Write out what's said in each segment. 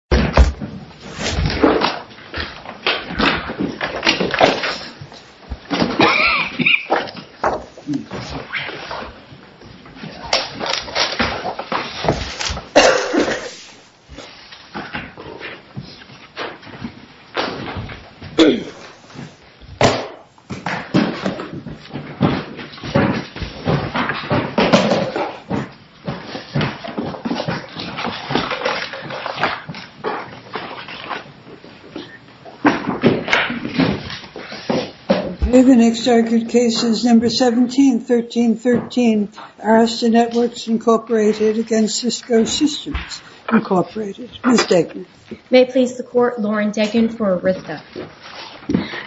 www.circlelineartschool.com 17-13-13 Arista Networks, Inc. v. Cisco Systems, Inc. May it please the court, Lauren Deggan for Arista.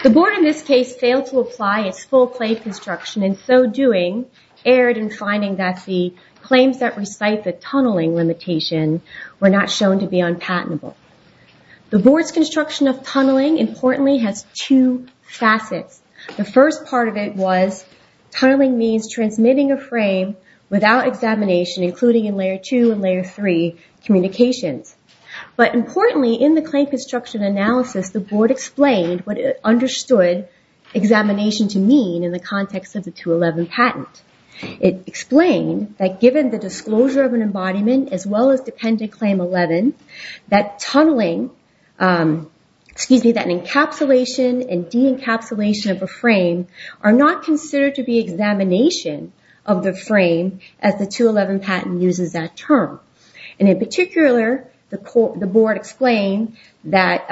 The board in this case failed to apply its full-plate construction, in so doing erred in finding that the claims that recite the tunneling limitation were not shown to be unpatentable. The board's construction of tunneling, importantly, has two facets. The first part of it was tunneling means transmitting a frame without examination, including in Layer 2 and Layer 3 communications. But importantly, in the claim construction analysis, the board explained what it understood examination to mean in the context of the 211 patent. It explained that given the disclosure of an embodiment, as well as Dependent Claim 11, that an encapsulation and de-encapsulation of a frame are not considered to be examination of the frame, as the 211 patent uses that term. In particular, the board explained that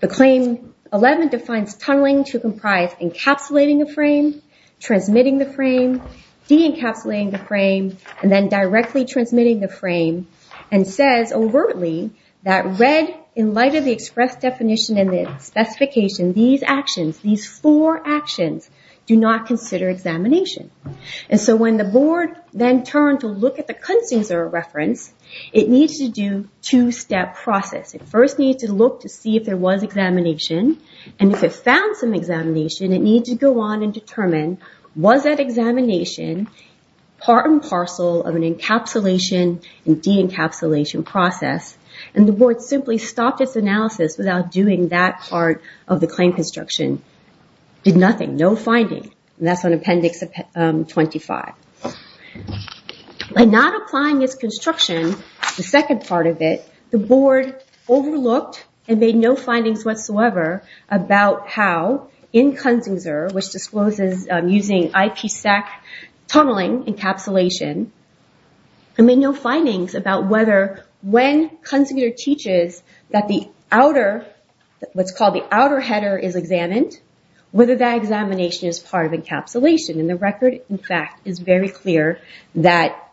the claim 11 defines tunneling to comprise encapsulating a frame, transmitting the frame, de-encapsulating the frame, and then directly transmitting the frame, and says overtly that read in light of the express definition and the specification, these actions, these four actions, do not consider examination. And so when the board then turned to look at the Kunstzinger reference, it needs to do two-step process. It first needs to look to see if there was examination, and if it found some examination, it needs to go on and determine, was that examination part and parcel of an encapsulation and de-encapsulation process? And the board simply stopped its analysis without doing that part of the claim construction. Did nothing. No finding. And that's on Appendix 25. By not applying its construction, the second part of it, the board overlooked and made no findings whatsoever about how in Kunstzinger, which discloses using IPSec tunneling encapsulation, and made no findings about whether when Kunstzinger teaches that what's called the outer header is examined, whether that examination is part of encapsulation. And the record, in fact, is very clear that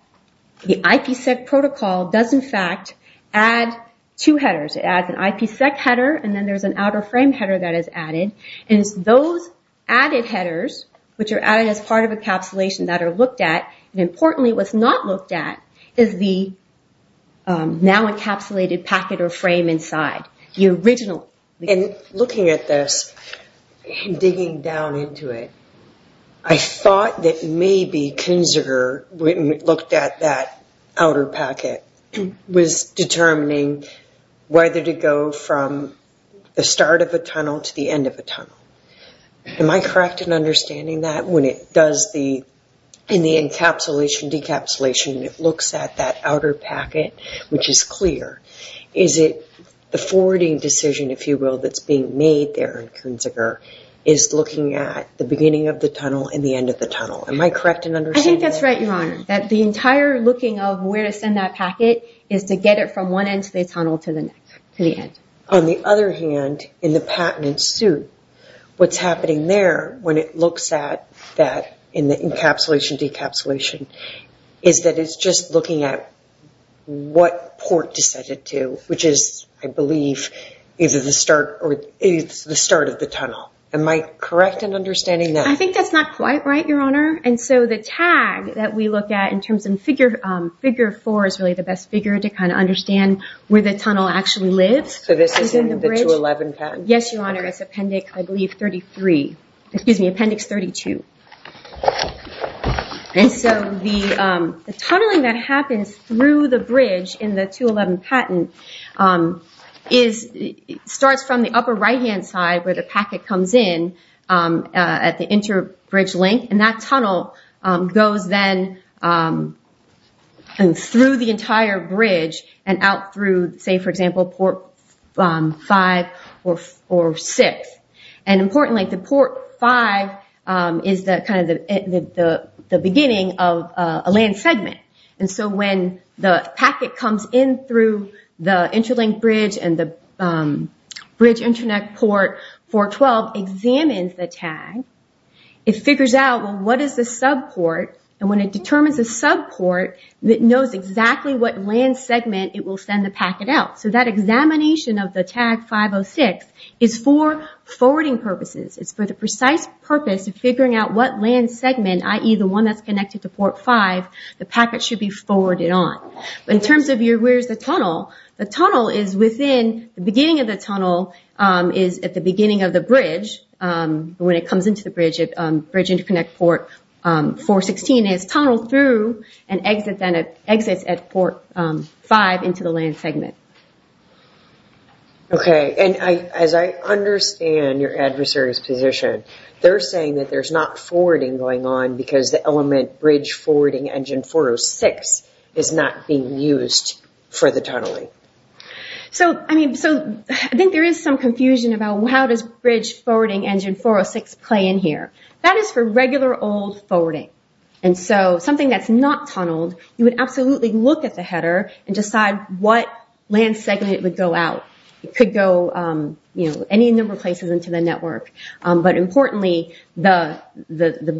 the IPSec protocol does, in fact, add two headers. It adds an IPSec header, and then there's an outer frame header that is added. And it's those added headers, which are added as part of encapsulation that are looked at, and importantly what's not looked at is the now encapsulated packet or frame inside, the original. And looking at this and digging down into it, I thought that maybe Kunstzinger, when we looked at that outer packet, was determining whether to go from the start of a tunnel to the end of a tunnel. Am I correct in understanding that when it does the, in the encapsulation, decapsulation, it looks at that outer packet, which is clear? Is it the forwarding decision, if you will, that's being made there in Kunstzinger is looking at the beginning of the tunnel and the end of the tunnel? Am I correct in understanding that? I think that's right, Your Honor, that the entire looking of where to send that packet is to get it from one end of the tunnel to the end. On the other hand, in the patented suit, what's happening there when it looks at that in the encapsulation, decapsulation, is that it's just looking at what port to send it to, which is, I believe, either the start or the start of the tunnel. Am I correct in understanding that? I think that's not quite right, Your Honor. And so the tag that we look at in terms of figure four is really the best figure to kind of understand where the tunnel actually lives. So this is in the 211 patent? Yes, Your Honor, it's Appendix, I believe, 33. Excuse me, Appendix 32. And so the tunneling that happens through the bridge in the 211 patent starts from the upper right-hand side where the packet comes in at the inter-bridge link, and that tunnel goes then through the entire bridge and out through, say, for example, port 5 or 6. And importantly, the port 5 is kind of the beginning of a land segment. And so when the packet comes in through the interlink bridge and the bridge internet port 412 examines the tag, it figures out, well, what is the subport? And when it determines the subport, it knows exactly what land segment it will send the packet out. So that examination of the tag 506 is for forwarding purposes. It's for the precise purpose of figuring out what land segment, i.e., the one that's connected to port 5, the packet should be forwarded on. In terms of where's the tunnel, the tunnel is within the beginning of the tunnel is at the beginning of the bridge. When it comes into the bridge, bridge interconnect port 416 is tunneled through and exits at port 5 into the land segment. Okay. And as I understand your adversary's position, they're saying that there's not forwarding going on because the element bridge forwarding engine 406 is not being used for the tunneling. So I think there is some confusion about how does bridge forwarding engine 406 play in here. That is for regular old forwarding. And so something that's not tunneled, you would absolutely look at the header and decide what land segment it would go out. It could go any number of places into the network. But importantly, the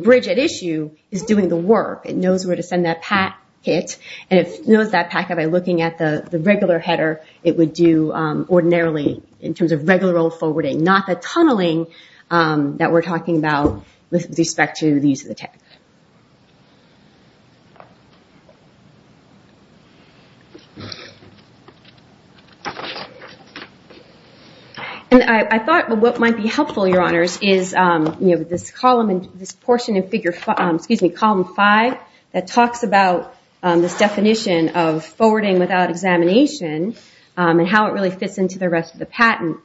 bridge at issue is doing the work. It knows where to send that packet, and it knows that packet by looking at the regular header. It would do ordinarily in terms of regular old forwarding, not the tunneling that we're talking about with respect to the use of the tech. And I thought what might be helpful, your honors, is this portion in column five that talks about this definition of forwarding without examination and how it really fits into the rest of the patent.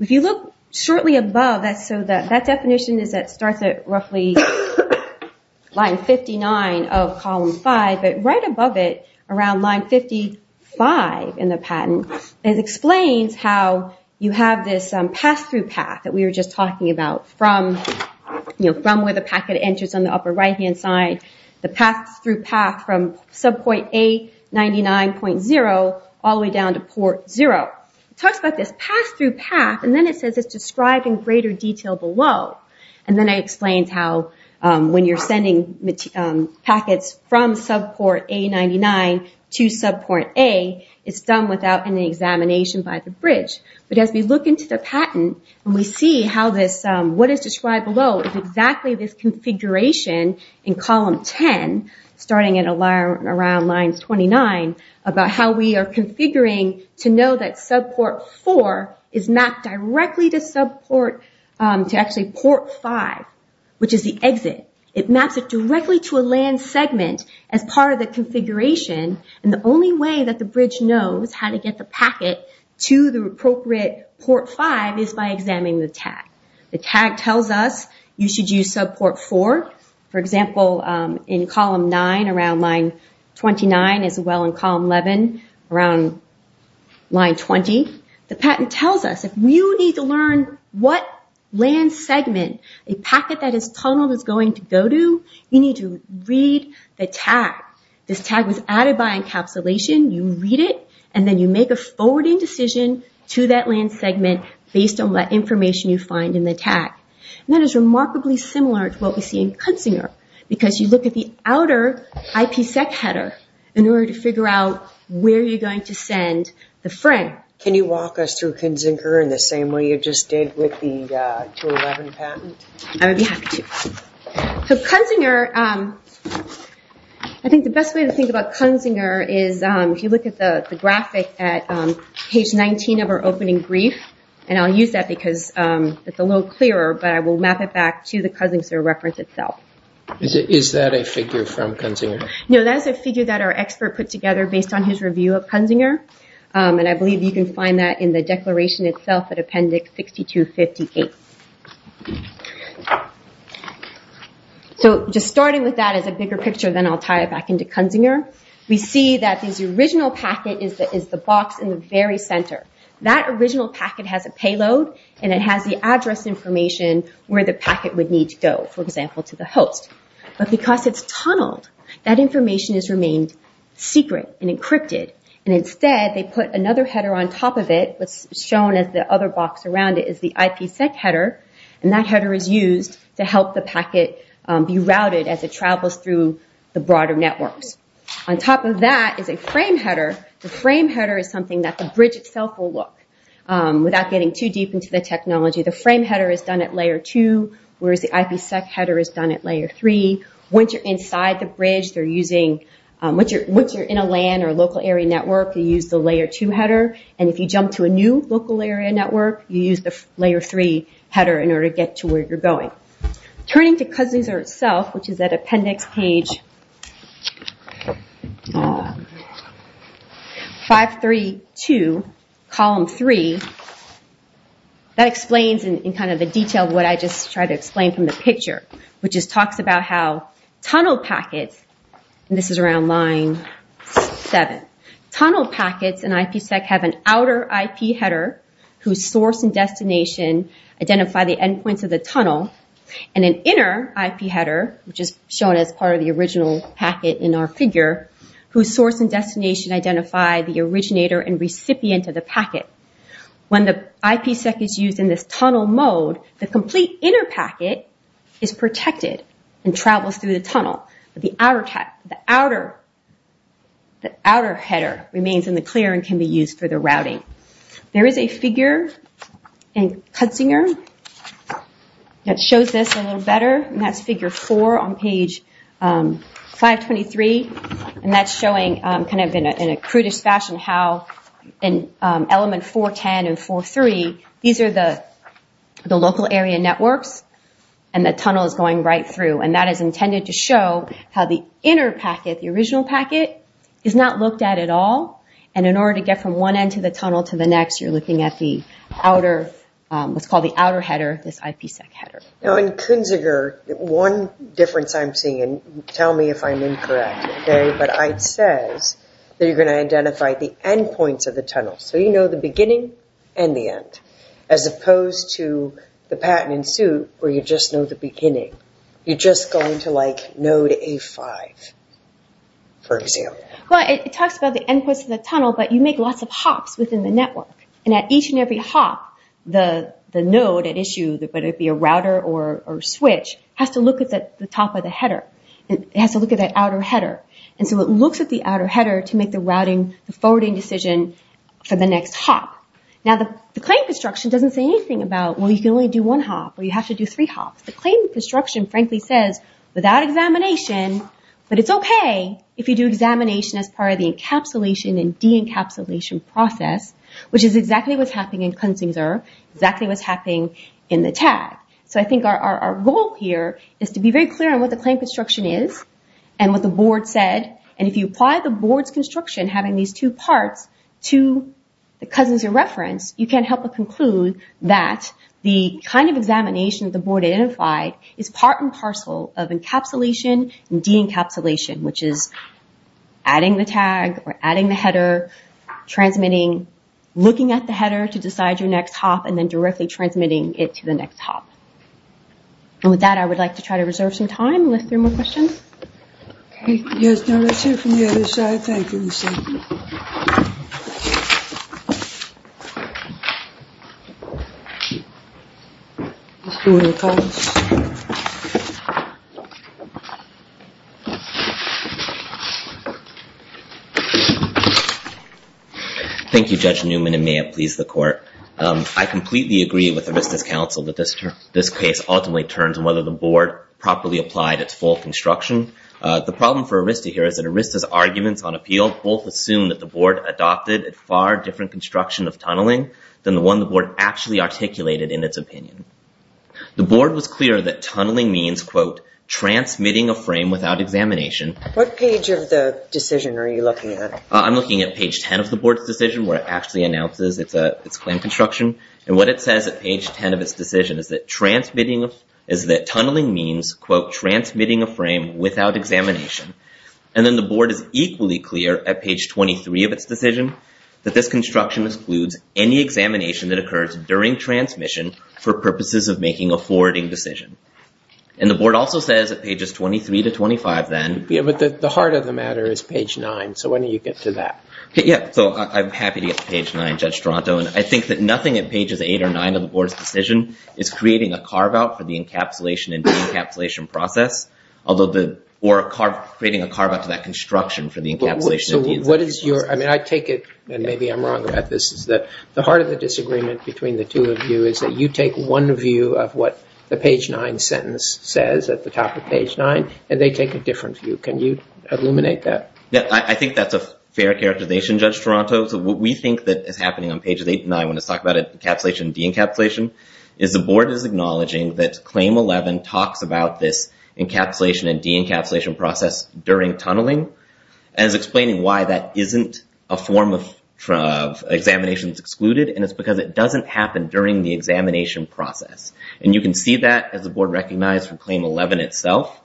If you look shortly above, that definition starts at roughly line 59 of column five, but right above it, around line 55 in the patent, it explains how you have this pass-through path that we were just talking about from where the packet enters on the upper right-hand side, the pass-through path from subpoint A99.0 all the way down to port zero. It talks about this pass-through path, and then it says it's described in greater detail below. And then it explains how when you're sending packets from subpoint A99.0 to subpoint A, it's done without any examination by the bridge. But as we look into the patent, and we see what is described below is exactly this configuration in column 10, starting at around line 29, about how we are configuring to know that subport four is mapped directly to actually port five, which is the exit. It maps it directly to a land segment as part of the configuration. And the only way that the bridge knows how to get the packet to the appropriate port five is by examining the tag. The tag tells us you should use subport four. For example, in column nine, around line 29, as well in column 11, around line 20, the patent tells us if you need to learn what land segment a packet that is tunneled is going to go to, you need to read the tag. This tag was added by encapsulation. You read it, and then you make a forwarding decision to that land segment based on what information you find in the tag. And that is remarkably similar to what we see in Kutzinger, because you look at the outer IPsec header in order to figure out where you're going to send the friend. Can you walk us through Kutzinger in the same way you just did with the 211 patent? I would be happy to. So Kutzinger, I think the best way to think about Kutzinger is if you look at the graphic at page 19 of our opening brief, and I'll use that because it's a little clearer, but I will map it back to the Kuzinger reference itself. Is that a figure from Kutzinger? No, that's a figure that our expert put together based on his review of Kutzinger, and I believe you can find that in the declaration itself at appendix 6258. So just starting with that as a bigger picture, then I'll tie it back into Kutzinger. We see that this original packet is the box in the very center. That original packet has a payload, and it has the address information where the packet would need to go, for example, to the host. But because it's tunneled, that information has remained secret and encrypted, and instead they put another header on top of it. What's shown as the other box around it is the IPsec header, and that header is used to help the packet be routed as it travels through the broader networks. On top of that is a frame header. The frame header is something that the bridge itself will look, without getting too deep into the technology, the frame header is done at layer 2, whereas the IPsec header is done at layer 3. Once you're inside the bridge, once you're in a LAN or local area network, you use the layer 2 header, and if you jump to a new local area network, you use the layer 3 header in order to get to where you're going. Turning to Kutzinger itself, which is at appendix page 532, column 3, that explains in detail what I just tried to explain from the picture, which talks about how tunnel packets, and this is around line 7, tunnel packets in IPsec have an outer IP header, whose source and destination identify the endpoints of the tunnel, and an inner IP header, which is shown as part of the original packet in our figure, whose source and destination identify the originator and recipient of the packet. When the IPsec is used in this tunnel mode, the complete inner packet is protected and travels through the tunnel, but the outer header remains in the clear and can be used for the routing. There is a figure in Kutzinger that shows this a little better, and that's figure 4 on page 523, and that's showing in a crudish fashion how in element 410 and 403, these are the local area networks, and the tunnel is going right through, and that is intended to show how the inner packet, the original packet, is not looked at at all, and in order to get from one end to the tunnel to the next, you're looking at what's called the outer header, this IPsec header. In Kutzinger, one difference I'm seeing, and tell me if I'm incorrect, but it says that you're going to identify the endpoints of the tunnel, so you know the beginning and the end, as opposed to the patent in suit, where you just know the beginning. You're just going to like node A5, for example. Well, it talks about the endpoints of the tunnel, but you make lots of hops within the network, and at each and every hop, the node at issue, whether it be a router or a switch, has to look at the top of the header. It has to look at that outer header, and so it looks at the outer header to make the routing, the forwarding decision for the next hop. Now, the claim construction doesn't say anything about, well, you can only do one hop, or you have to do three hops. The claim construction frankly says, without examination, but it's okay if you do examination as part of the encapsulation and de-encapsulation process, which is exactly what's happening in Kutzinger, exactly what's happening in the tag. So I think our goal here is to be very clear on what the claim construction is and what the board said, and if you apply the board's construction, having these two parts, to the Kutzinger reference, you can help to conclude that the kind of examination the board identified is part and parcel of encapsulation and de-encapsulation, which is adding the tag or adding the header, transmitting, looking at the header to decide your next hop, and then directly transmitting it to the next hop. And with that, I would like to try to reserve some time and list three more questions. Okay. Yes, no, that's it from the other side. Thank you, Ms. Sutton. Thank you, Judge Newman, and may it please the court. I completely agree with Arista's counsel that this case ultimately turns on whether the board properly applied its full construction. The problem for Arista here is that Arista's arguments on appeal both assume that the board adopted a far different construction of tunneling than the one the board actually articulated in its opinion. The board was clear that tunneling means, quote, transmitting a frame without examination. What page of the decision are you looking at? I'm looking at page 10 of the board's decision, where it actually announces its planned construction. And what it says at page 10 of its decision is that tunneling means, quote, transmitting a frame without examination. And then the board is equally clear at page 23 of its decision that this construction excludes any examination that occurs during transmission for purposes of making a forwarding decision. And the board also says at pages 23 to 25 then... Yeah, but the heart of the matter is page 9, so when do you get to that? Yeah, so I'm happy to get to page 9, Judge Toronto. And I think that nothing at pages 8 or 9 of the board's decision is creating a carve-out for the encapsulation and de-encapsulation process, or creating a carve-out to that construction for the encapsulation and de-encapsulation process. I mean, I take it, and maybe I'm wrong about this, is that the heart of the disagreement between the two of you is that you take one view of what the page 9 sentence says at the top of page 9, and they take a different view. Can you illuminate that? Yeah, I think that's a fair characterization, Judge Toronto. So what we think that is happening on pages 8 and 9 when it's talking about encapsulation and de-encapsulation is the board is acknowledging that Claim 11 talks about this encapsulation and de-encapsulation process during tunneling as explaining why that isn't a form of examination that's excluded, and it's because it doesn't happen during the examination process. And you can see that as the board recognized from Claim 11 itself,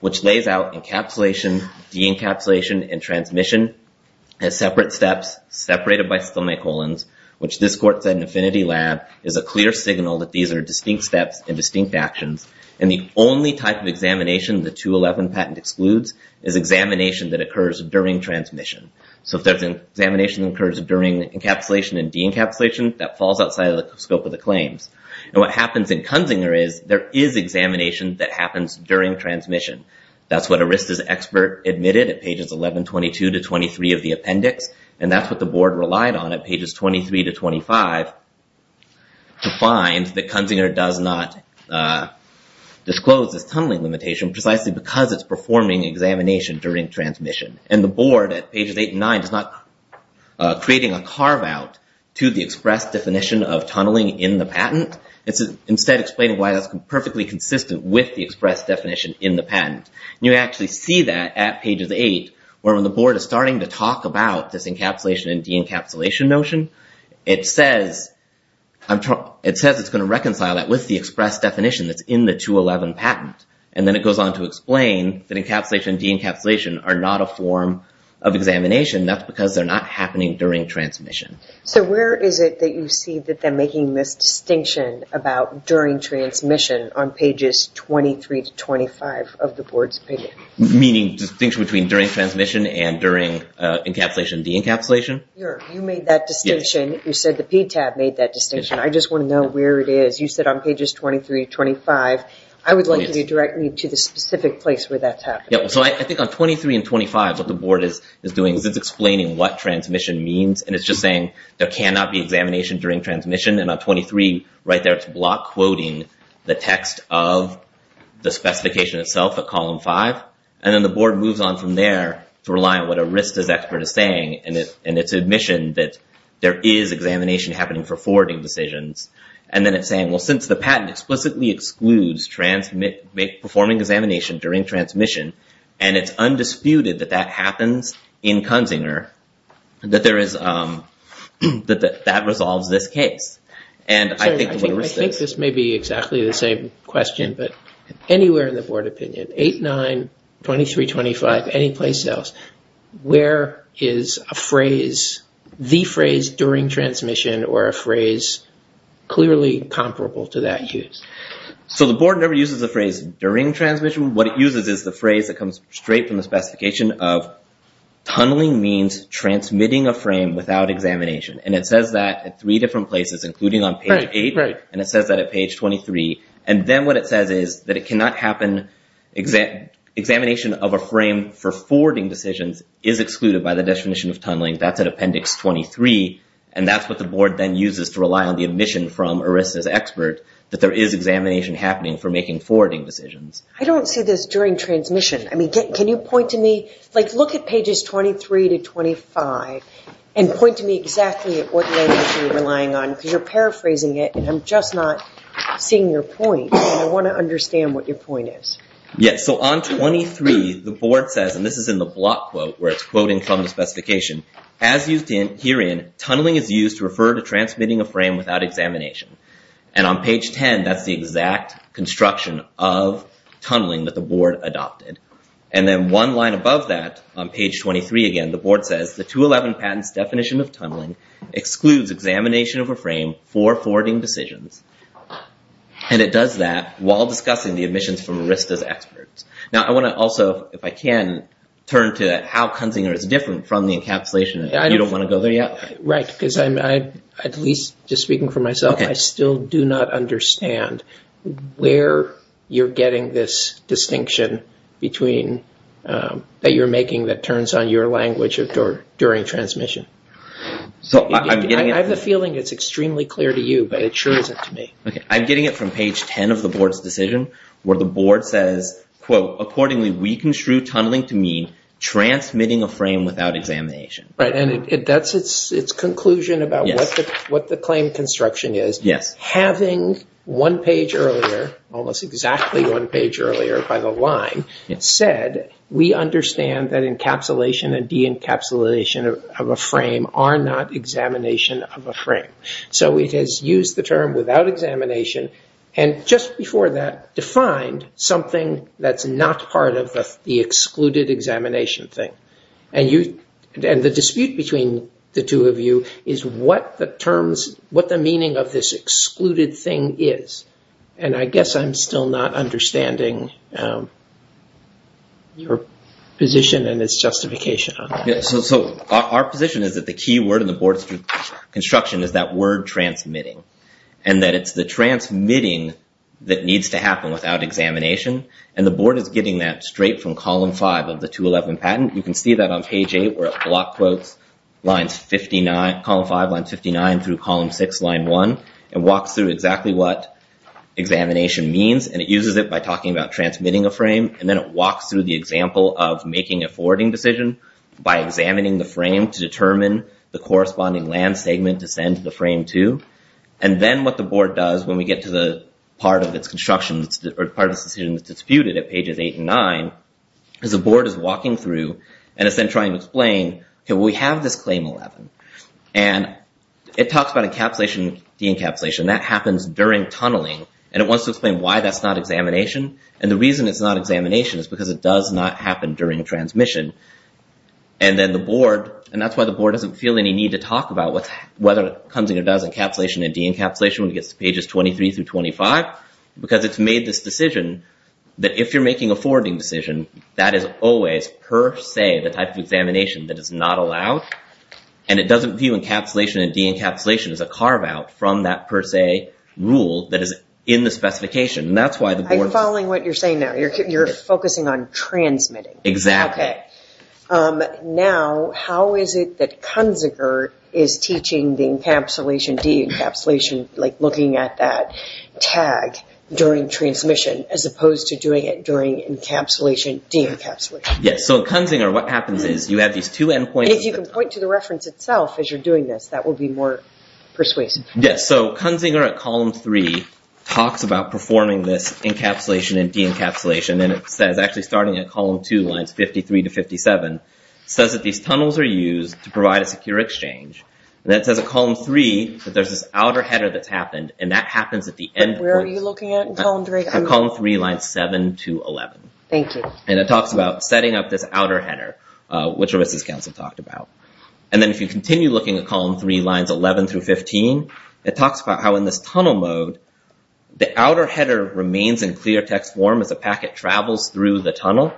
which lays out encapsulation, de-encapsulation, and transmission as separate steps, separated by stomach colons, which this court said in Affinity Lab is a clear signal that these are distinct steps and distinct actions, and the only type of examination that 211 patent excludes is examination that occurs during transmission. So if there's an examination that occurs during encapsulation and de-encapsulation, that falls outside of the scope of the claims. And what happens in Kunzinger is there is examination that happens during transmission. That's what Arista's expert admitted at pages 11, 22 to 23 of the appendix, and that's what the board relied on at pages 23 to 25 to find that Kunzinger does not disclose this tunneling limitation precisely because it's performing examination during transmission. And the board at pages eight and nine is not creating a carve-out to the express definition of tunneling in the patent. It's instead explaining why that's perfectly consistent with the express definition in the patent. And you actually see that at pages eight where when the board is starting to talk about this encapsulation and de-encapsulation notion, it says it's going to reconcile that with the express definition that's in the 211 patent. And then it goes on to explain that encapsulation and de-encapsulation are not a form of examination. That's because they're not happening during transmission. So where is it that you see that they're making this distinction about during transmission on pages 23 to 25 of the board's opinion? Meaning distinction between during transmission and during encapsulation and de-encapsulation? You made that distinction. You said the PTAB made that distinction. I just want to know where it is. You said on pages 23 to 25. I would like you to direct me to the specific place where that's happening. So I think on 23 and 25 what the board is doing is it's explaining what transmission means. And it's just saying there cannot be examination during transmission. And on 23 right there it's block quoting the text of the specification itself at column five. And then the board moves on from there to rely on what a RISD expert is saying. And it's admission that there is examination happening for forwarding decisions. And then it's saying well since the patent explicitly excludes performing examination during transmission and it's undisputed that that happens in Kunzinger that that resolves this case. I think this may be exactly the same question but anywhere in the board opinion 8, 9, 23, 25 any place else where is a phrase the phrase during transmission or a phrase clearly comparable to that use? So the board never uses the phrase during transmission. What it uses is the phrase that comes straight from the specification of tunneling means transmitting a frame without examination. And it says that at three different places including on page 8. And it says that at page 23. And then what it says is that it cannot happen examination of a frame for forwarding decisions is excluded by the definition of tunneling. That's at appendix 23. And that's what the board then uses to rely on the admission from a RISD expert that there is examination happening for making forwarding decisions. I don't see this during transmission. I mean can you point to me like look at pages 23 to 25 and point to me exactly what language you're relying on. Because you're paraphrasing it and I'm just not seeing your point. I want to understand what your point is. Yes, so on 23 the board says and this is in the block quote where it's quoting from the specification. As used herein tunneling is used to refer to transmitting a frame without examination. And on page 10 that's the exact construction of tunneling that the board adopted. And then one line above that on page 23 again the board says the 211 patents definition of tunneling excludes examination of a frame for forwarding decisions. And it does that while discussing the admissions from RISD's experts. Now I want to also if I can turn to how Kunzinger is different from the encapsulation. You don't want to go there yet. Right, because I'm at least just speaking for myself I still do not understand where you're getting this distinction between that you're making that turns on your language during transmission. I have a feeling it's extremely clear to you but it sure isn't to me. Okay, I'm getting it from page 10 of the board's decision where the board says quote accordingly we construe tunneling to mean transmitting a frame without examination. Right, and that's its conclusion about what the claim construction is. Yes. Having one page earlier almost exactly one page earlier by the line said we understand that encapsulation and de-encapsulation of a frame are not examination of a frame. So it has used the term without examination and just before that defined something that's not part of the excluded examination thing. And the dispute between the two of you is what the terms what the meaning of this excluded thing is. And I guess I'm still not understanding your position and its justification on that. So our position is that the key word in the board's construction is that word transmitting. And that it's the transmitting that needs to happen without examination and the board is getting that straight from column 5 of the 211 patent. You can see that on page 8 where it block quotes lines 59 column 5 line 59 through column 6 line 1 and walks through exactly what examination means and it uses it by talking about transmitting a frame and then it walks through the example of making a forwarding decision by examining the frame to determine the corresponding land segment to send the frame to. And then what the board does when we get to the part of its construction or part of its decision that's disputed at pages 8 and 9 is the board is walking through and is then trying to explain we have this claim 11 and it talks about encapsulation de-encapsulation that happens during tunneling and it wants to explain why that's not examination and the reason it's not examination is because it does not happen during transmission. And then the board and that's why the board doesn't feel any need to talk about whether it comes and it does encapsulation and de-encapsulation when it gets to pages 23 through 25 because it's made this decision that if you're making a forwarding decision that is always per se the type of examination that is not allowed and it doesn't view encapsulation and de-encapsulation as a carve out from that per se rule that is in the specification and that's why the board I'm following what you're saying now. You're focusing on transmitting. Exactly. Okay. Now how is it that Kunzinger is teaching the encapsulation de-encapsulation like looking at that tag during transmission as opposed to doing it during encapsulation de-encapsulation. Yes. So in Kunzinger what happens is you have these two end points And if you can point to the reference itself as you're going to be more persuasive. Yes. So Kunzinger at column 3 talks about performing this encapsulation and de-encapsulation and it says actually starting at column 2 lines 53 to 57 says that these tunnels are used to provide a secure exchange and then it says at column 3 that there's this outer header that's happened and that happens at the end point But where are you looking at in column 3? At column 3 lines 7 to 11. Thank you. And it talks about setting up this outer header which Risa's council talked about. And then if you continue looking at column 3 lines 11 through 15 it talks about how in this tunnel mode the outer header remains in clear text form as the packet travels through the tunnel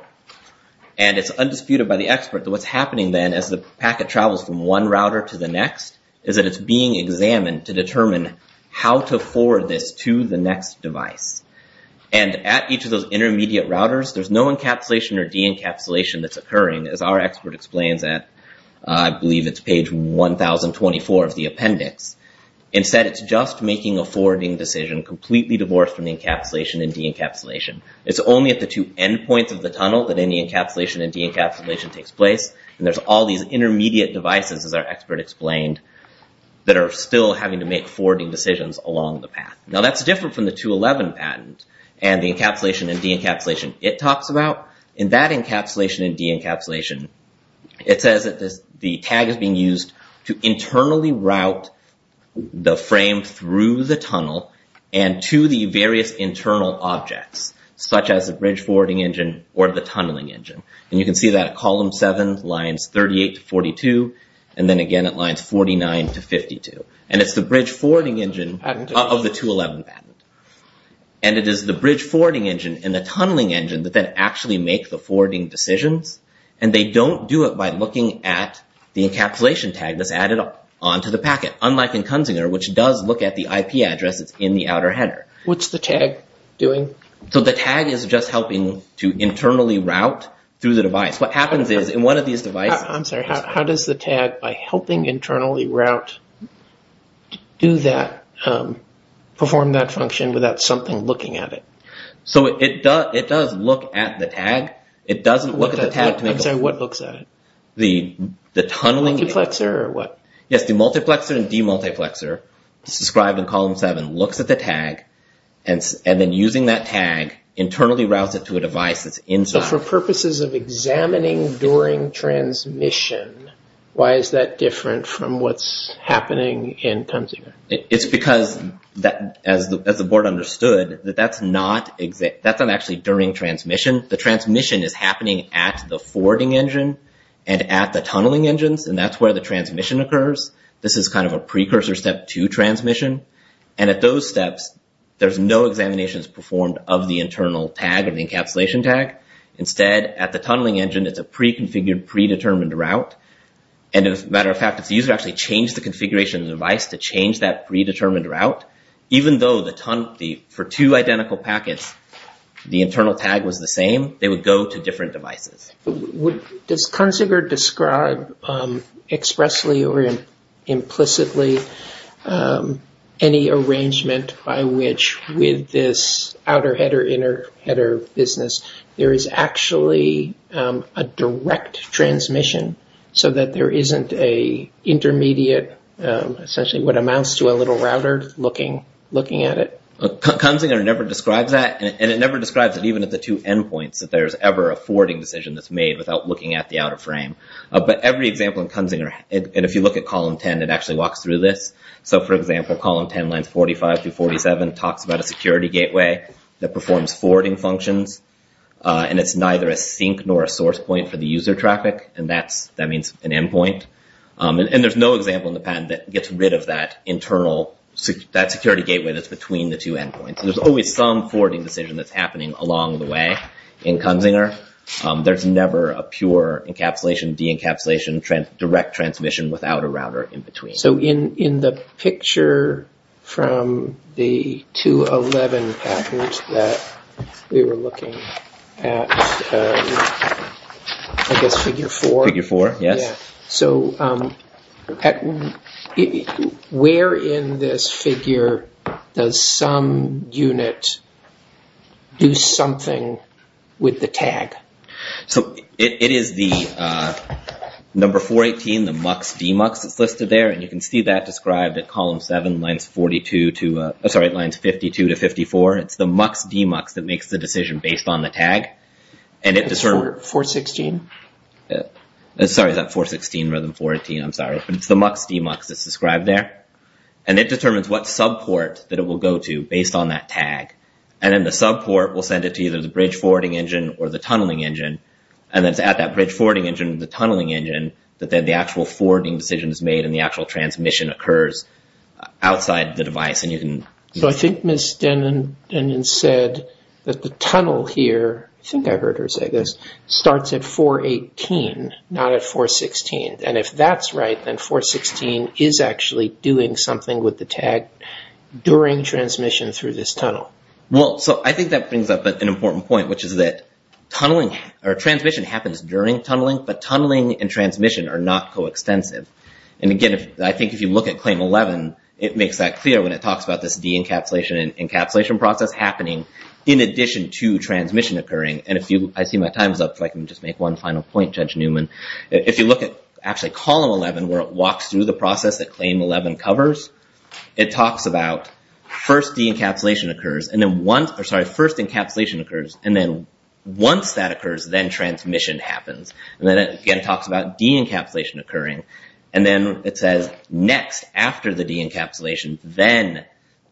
and it's undisputed by the expert that what's happening then as the packet travels from one router to the next is that it's being examined to determine how to forward this to the next device. And at each of those intermediate routers there's no encapsulation or de-encapsulation that's occurring as our expert explains at I believe it's page 1024 of the appendix. Instead it's just making a forwarding decision completely divorced from the encapsulation and de-encapsulation. It's only at the two end points of the tunnel that any encapsulation and de-encapsulation takes place and there's all these intermediate devices as our expert explained that are still having to make forwarding decisions along the path. Now that's different from the 211 patent and the encapsulation and de-encapsulation it talks about. In that encapsulation and de-encapsulation it says that the tag is being used to internally route the frame through the tunnel and to the various internal objects such as the bridge forwarding engine or the tunneling engine. And you can see that column 7 lines 38-42 and then again it lines 49-52 and it's the bridge forwarding engine of the 211 patent. And it is the bridge forwarding engine and the tunneling engine that actually make the forwarding decisions and they don't do it by looking at the encapsulation tag that's added on to the packet unlike in Kunzinger which does look at the IP address that's in the outer header. What's the tag doing? So the tag is just helping to what happens is in one of these devices I'm sorry how does the tag by helping internally route do that perform that function without something looking at it? So it does look at the tag it doesn't look at the tag I'm sorry what looks at it? The tunneling multiplexer or what? Yes the multiplexer and demultiplexer described in column 7 looks at the tag and then using that tag internally routes it to a device that's inside. So for purposes of examining during transmission why is that different from what's happening in Kunzinger? It's because as the board understood that's not actually during transmission. The transmission is happening at the forwarding engine and at the tunneling engines and that's where the transmission occurs. This is kind of a precursor step to transmission and at those engines it's a pre-configured predetermined route and as a matter of fact if the user actually changed the configuration of the device to change that predetermined route even though for two identical packets the internal tag was the same they would go to different devices. Does Kunzinger describe expressly or implicitly any arrangement by which with this outer header inner header business there is actually a direct transmission so that there isn't a intermediate essentially what amounts to a little router looking at it? Kunzinger never describes that and it never describes it even at the two endpoints that there's ever a forwarding decision that's made without looking at the outer frame. But every example in Kunzinger and if you look at column 10 it actually walks through this so for example column 10 lines 45 to 47 talks about a security gateway that performs forwarding functions and it's neither a sink nor a source point for the user traffic and that means an endpoint and there's no example in the patent that gets rid of that internal security gateway that's between the two endpoints and there's always some forwarding decision that's happening along the way in Kunzinger. There's never a pure encapsulation de-encapsulation direct transmission without a router in between. So in the picture from the 211 patent that we were looking at I guess figure 4 figure 4 yes so where in this figure does some unit do something with the tag? So it is the number 418 the MUX demux that's listed there and you can see that described at column 7 lines 42 to sorry lines 52 to 54 it's the MUX demux that makes the decision based on the tag and it determines what subport that it will go to based on that tag and then the subport will send it to either the bridge forwarding engine or the tunneling engine and it's at that bridge forwarding engine and the tunneling engine that then the actual forwarding decision is made and the actual transmission occurs outside the device and you can So I think Ms. Denon said that the tunnel here I think I heard her say this starts at 418 not at 416 and if that's right then 416 is actually doing something with the tag during transmission through this tunnel. Well so I think that brings up an important point which is that tunneling or transmission happens during tunneling but tunneling and transmission are not coextensive and again I think if you look at column 11 it talks about this de-encapsulation and encapsulation process happening in addition to transmission occurring and if you I see my time is up so I can just make one final point Judge Newman if you look at actually column 11 where it walks through the process that claim 11 covers it de-encapsulation occurs and then once or sorry first encapsulation occurs and then once that occurs then transmission happens and then it again talks about de-encapsulation occurring and then it says next after the de-encapsulation then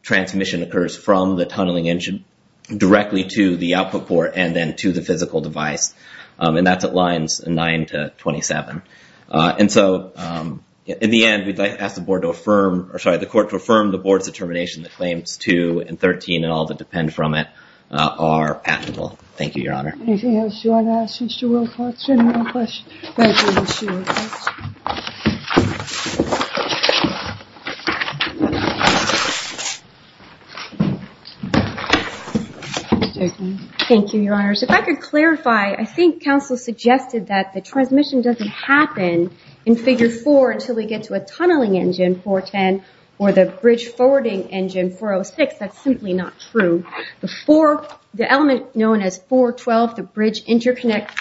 transmission occurs from the tunneling engine directly to the output port and then to the physical device and that's at lines 9 to 27 and so in the end we'd like to ask the board to affirm or sorry the court to affirm the board's claims 2 and 13 and all that depend from it are patentable. Thank you Your Honor. Anything else you want to ask Mr. Wilcox? Any more questions? Thank you Mr. Wilcox. Thank you Your Honor. So if I could clarify I think counsel suggested that the transmission doesn't happen in figure 4 until we get to a tunneling engine 410 or the bridge forwarding engine 406. That's simply not true. interconnect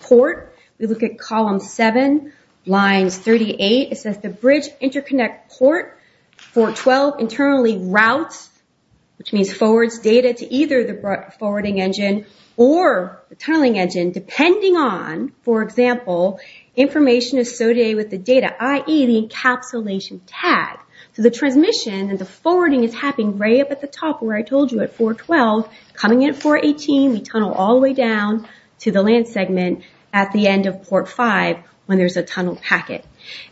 port we look at column 7 lines 38 it says the bridge interconnect port and the bridge forwarding engine 406. That's simply not true. 412 internally routes which means forwards data to either the forwarding engine or the tunneling engine depending on for example information associated with the data i.e. the encapsulation tag. So the transmission and the forwarding is happening right up at the top where I told you at 412 coming in 418 we tunnel all the way down to the land segment at the end of port 5 when there's a tunnel packet.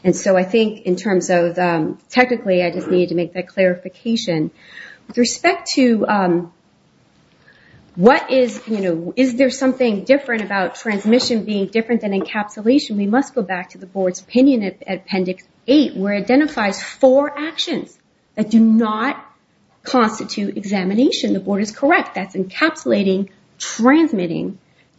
And so I think in terms of technically I just need to make that clarification. With respect to what is you know is there something different about transmission being different than encapsulation we must go back to the board's opinion at appendix 8 where it identifies four actions that do not constitute examination. The board is correct that's encapsulating transmitting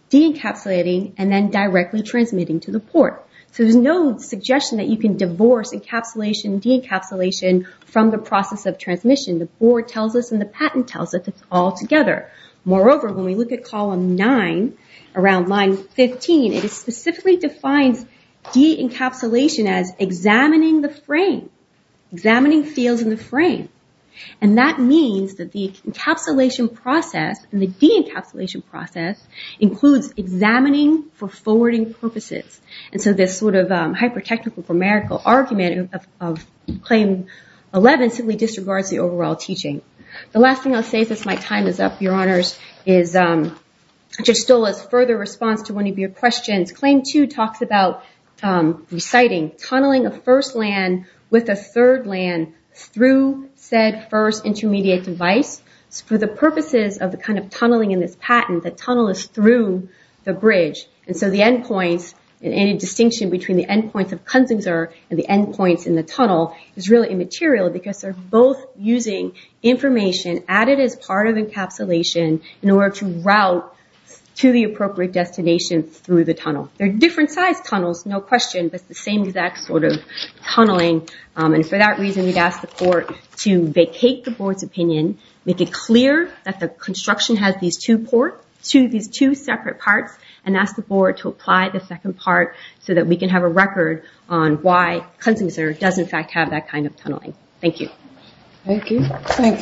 deencapsulating and then directly transmitting to the port. So there's no suggestion that you can divorce encapsulation deencapsulation from the process of transmission. The board tells us and the patent tells us it's all together. Moreover when we look at column 9 around line 15 it specifically defines deencapsulation as examining the frame. Examining fields in the frame. And that means that the encapsulation process and the deencapsulation process includes examining for forwarding purposes. And so this sort of hypothetical argument of claim 11 simply disregards the overall teaching. The last thing I'll say as my time is up, your honors, is further response to one of your questions. Claim 2 talks about reciting tunneling a first land with a third land through said first intermediate device for the purposes of the kind of tunneling in this patent. The tunnel is through the bridge. And so the end points and the distinction between the end points in the tunnel is really immaterial because they're both using information added as part of encapsulation in order to route to the appropriate destination through the tunnel. They're different sized tunnels, no question, but the same exact sort of tunneling. And for that reason we've asked the court to vacate the board's opinion, make it clear that the construction has these two separate parts and ask the board to apply the second part so we can have a record on why Cleansing Center does in fact have that kind of tunneling. Thank you. Thank you. Thank you very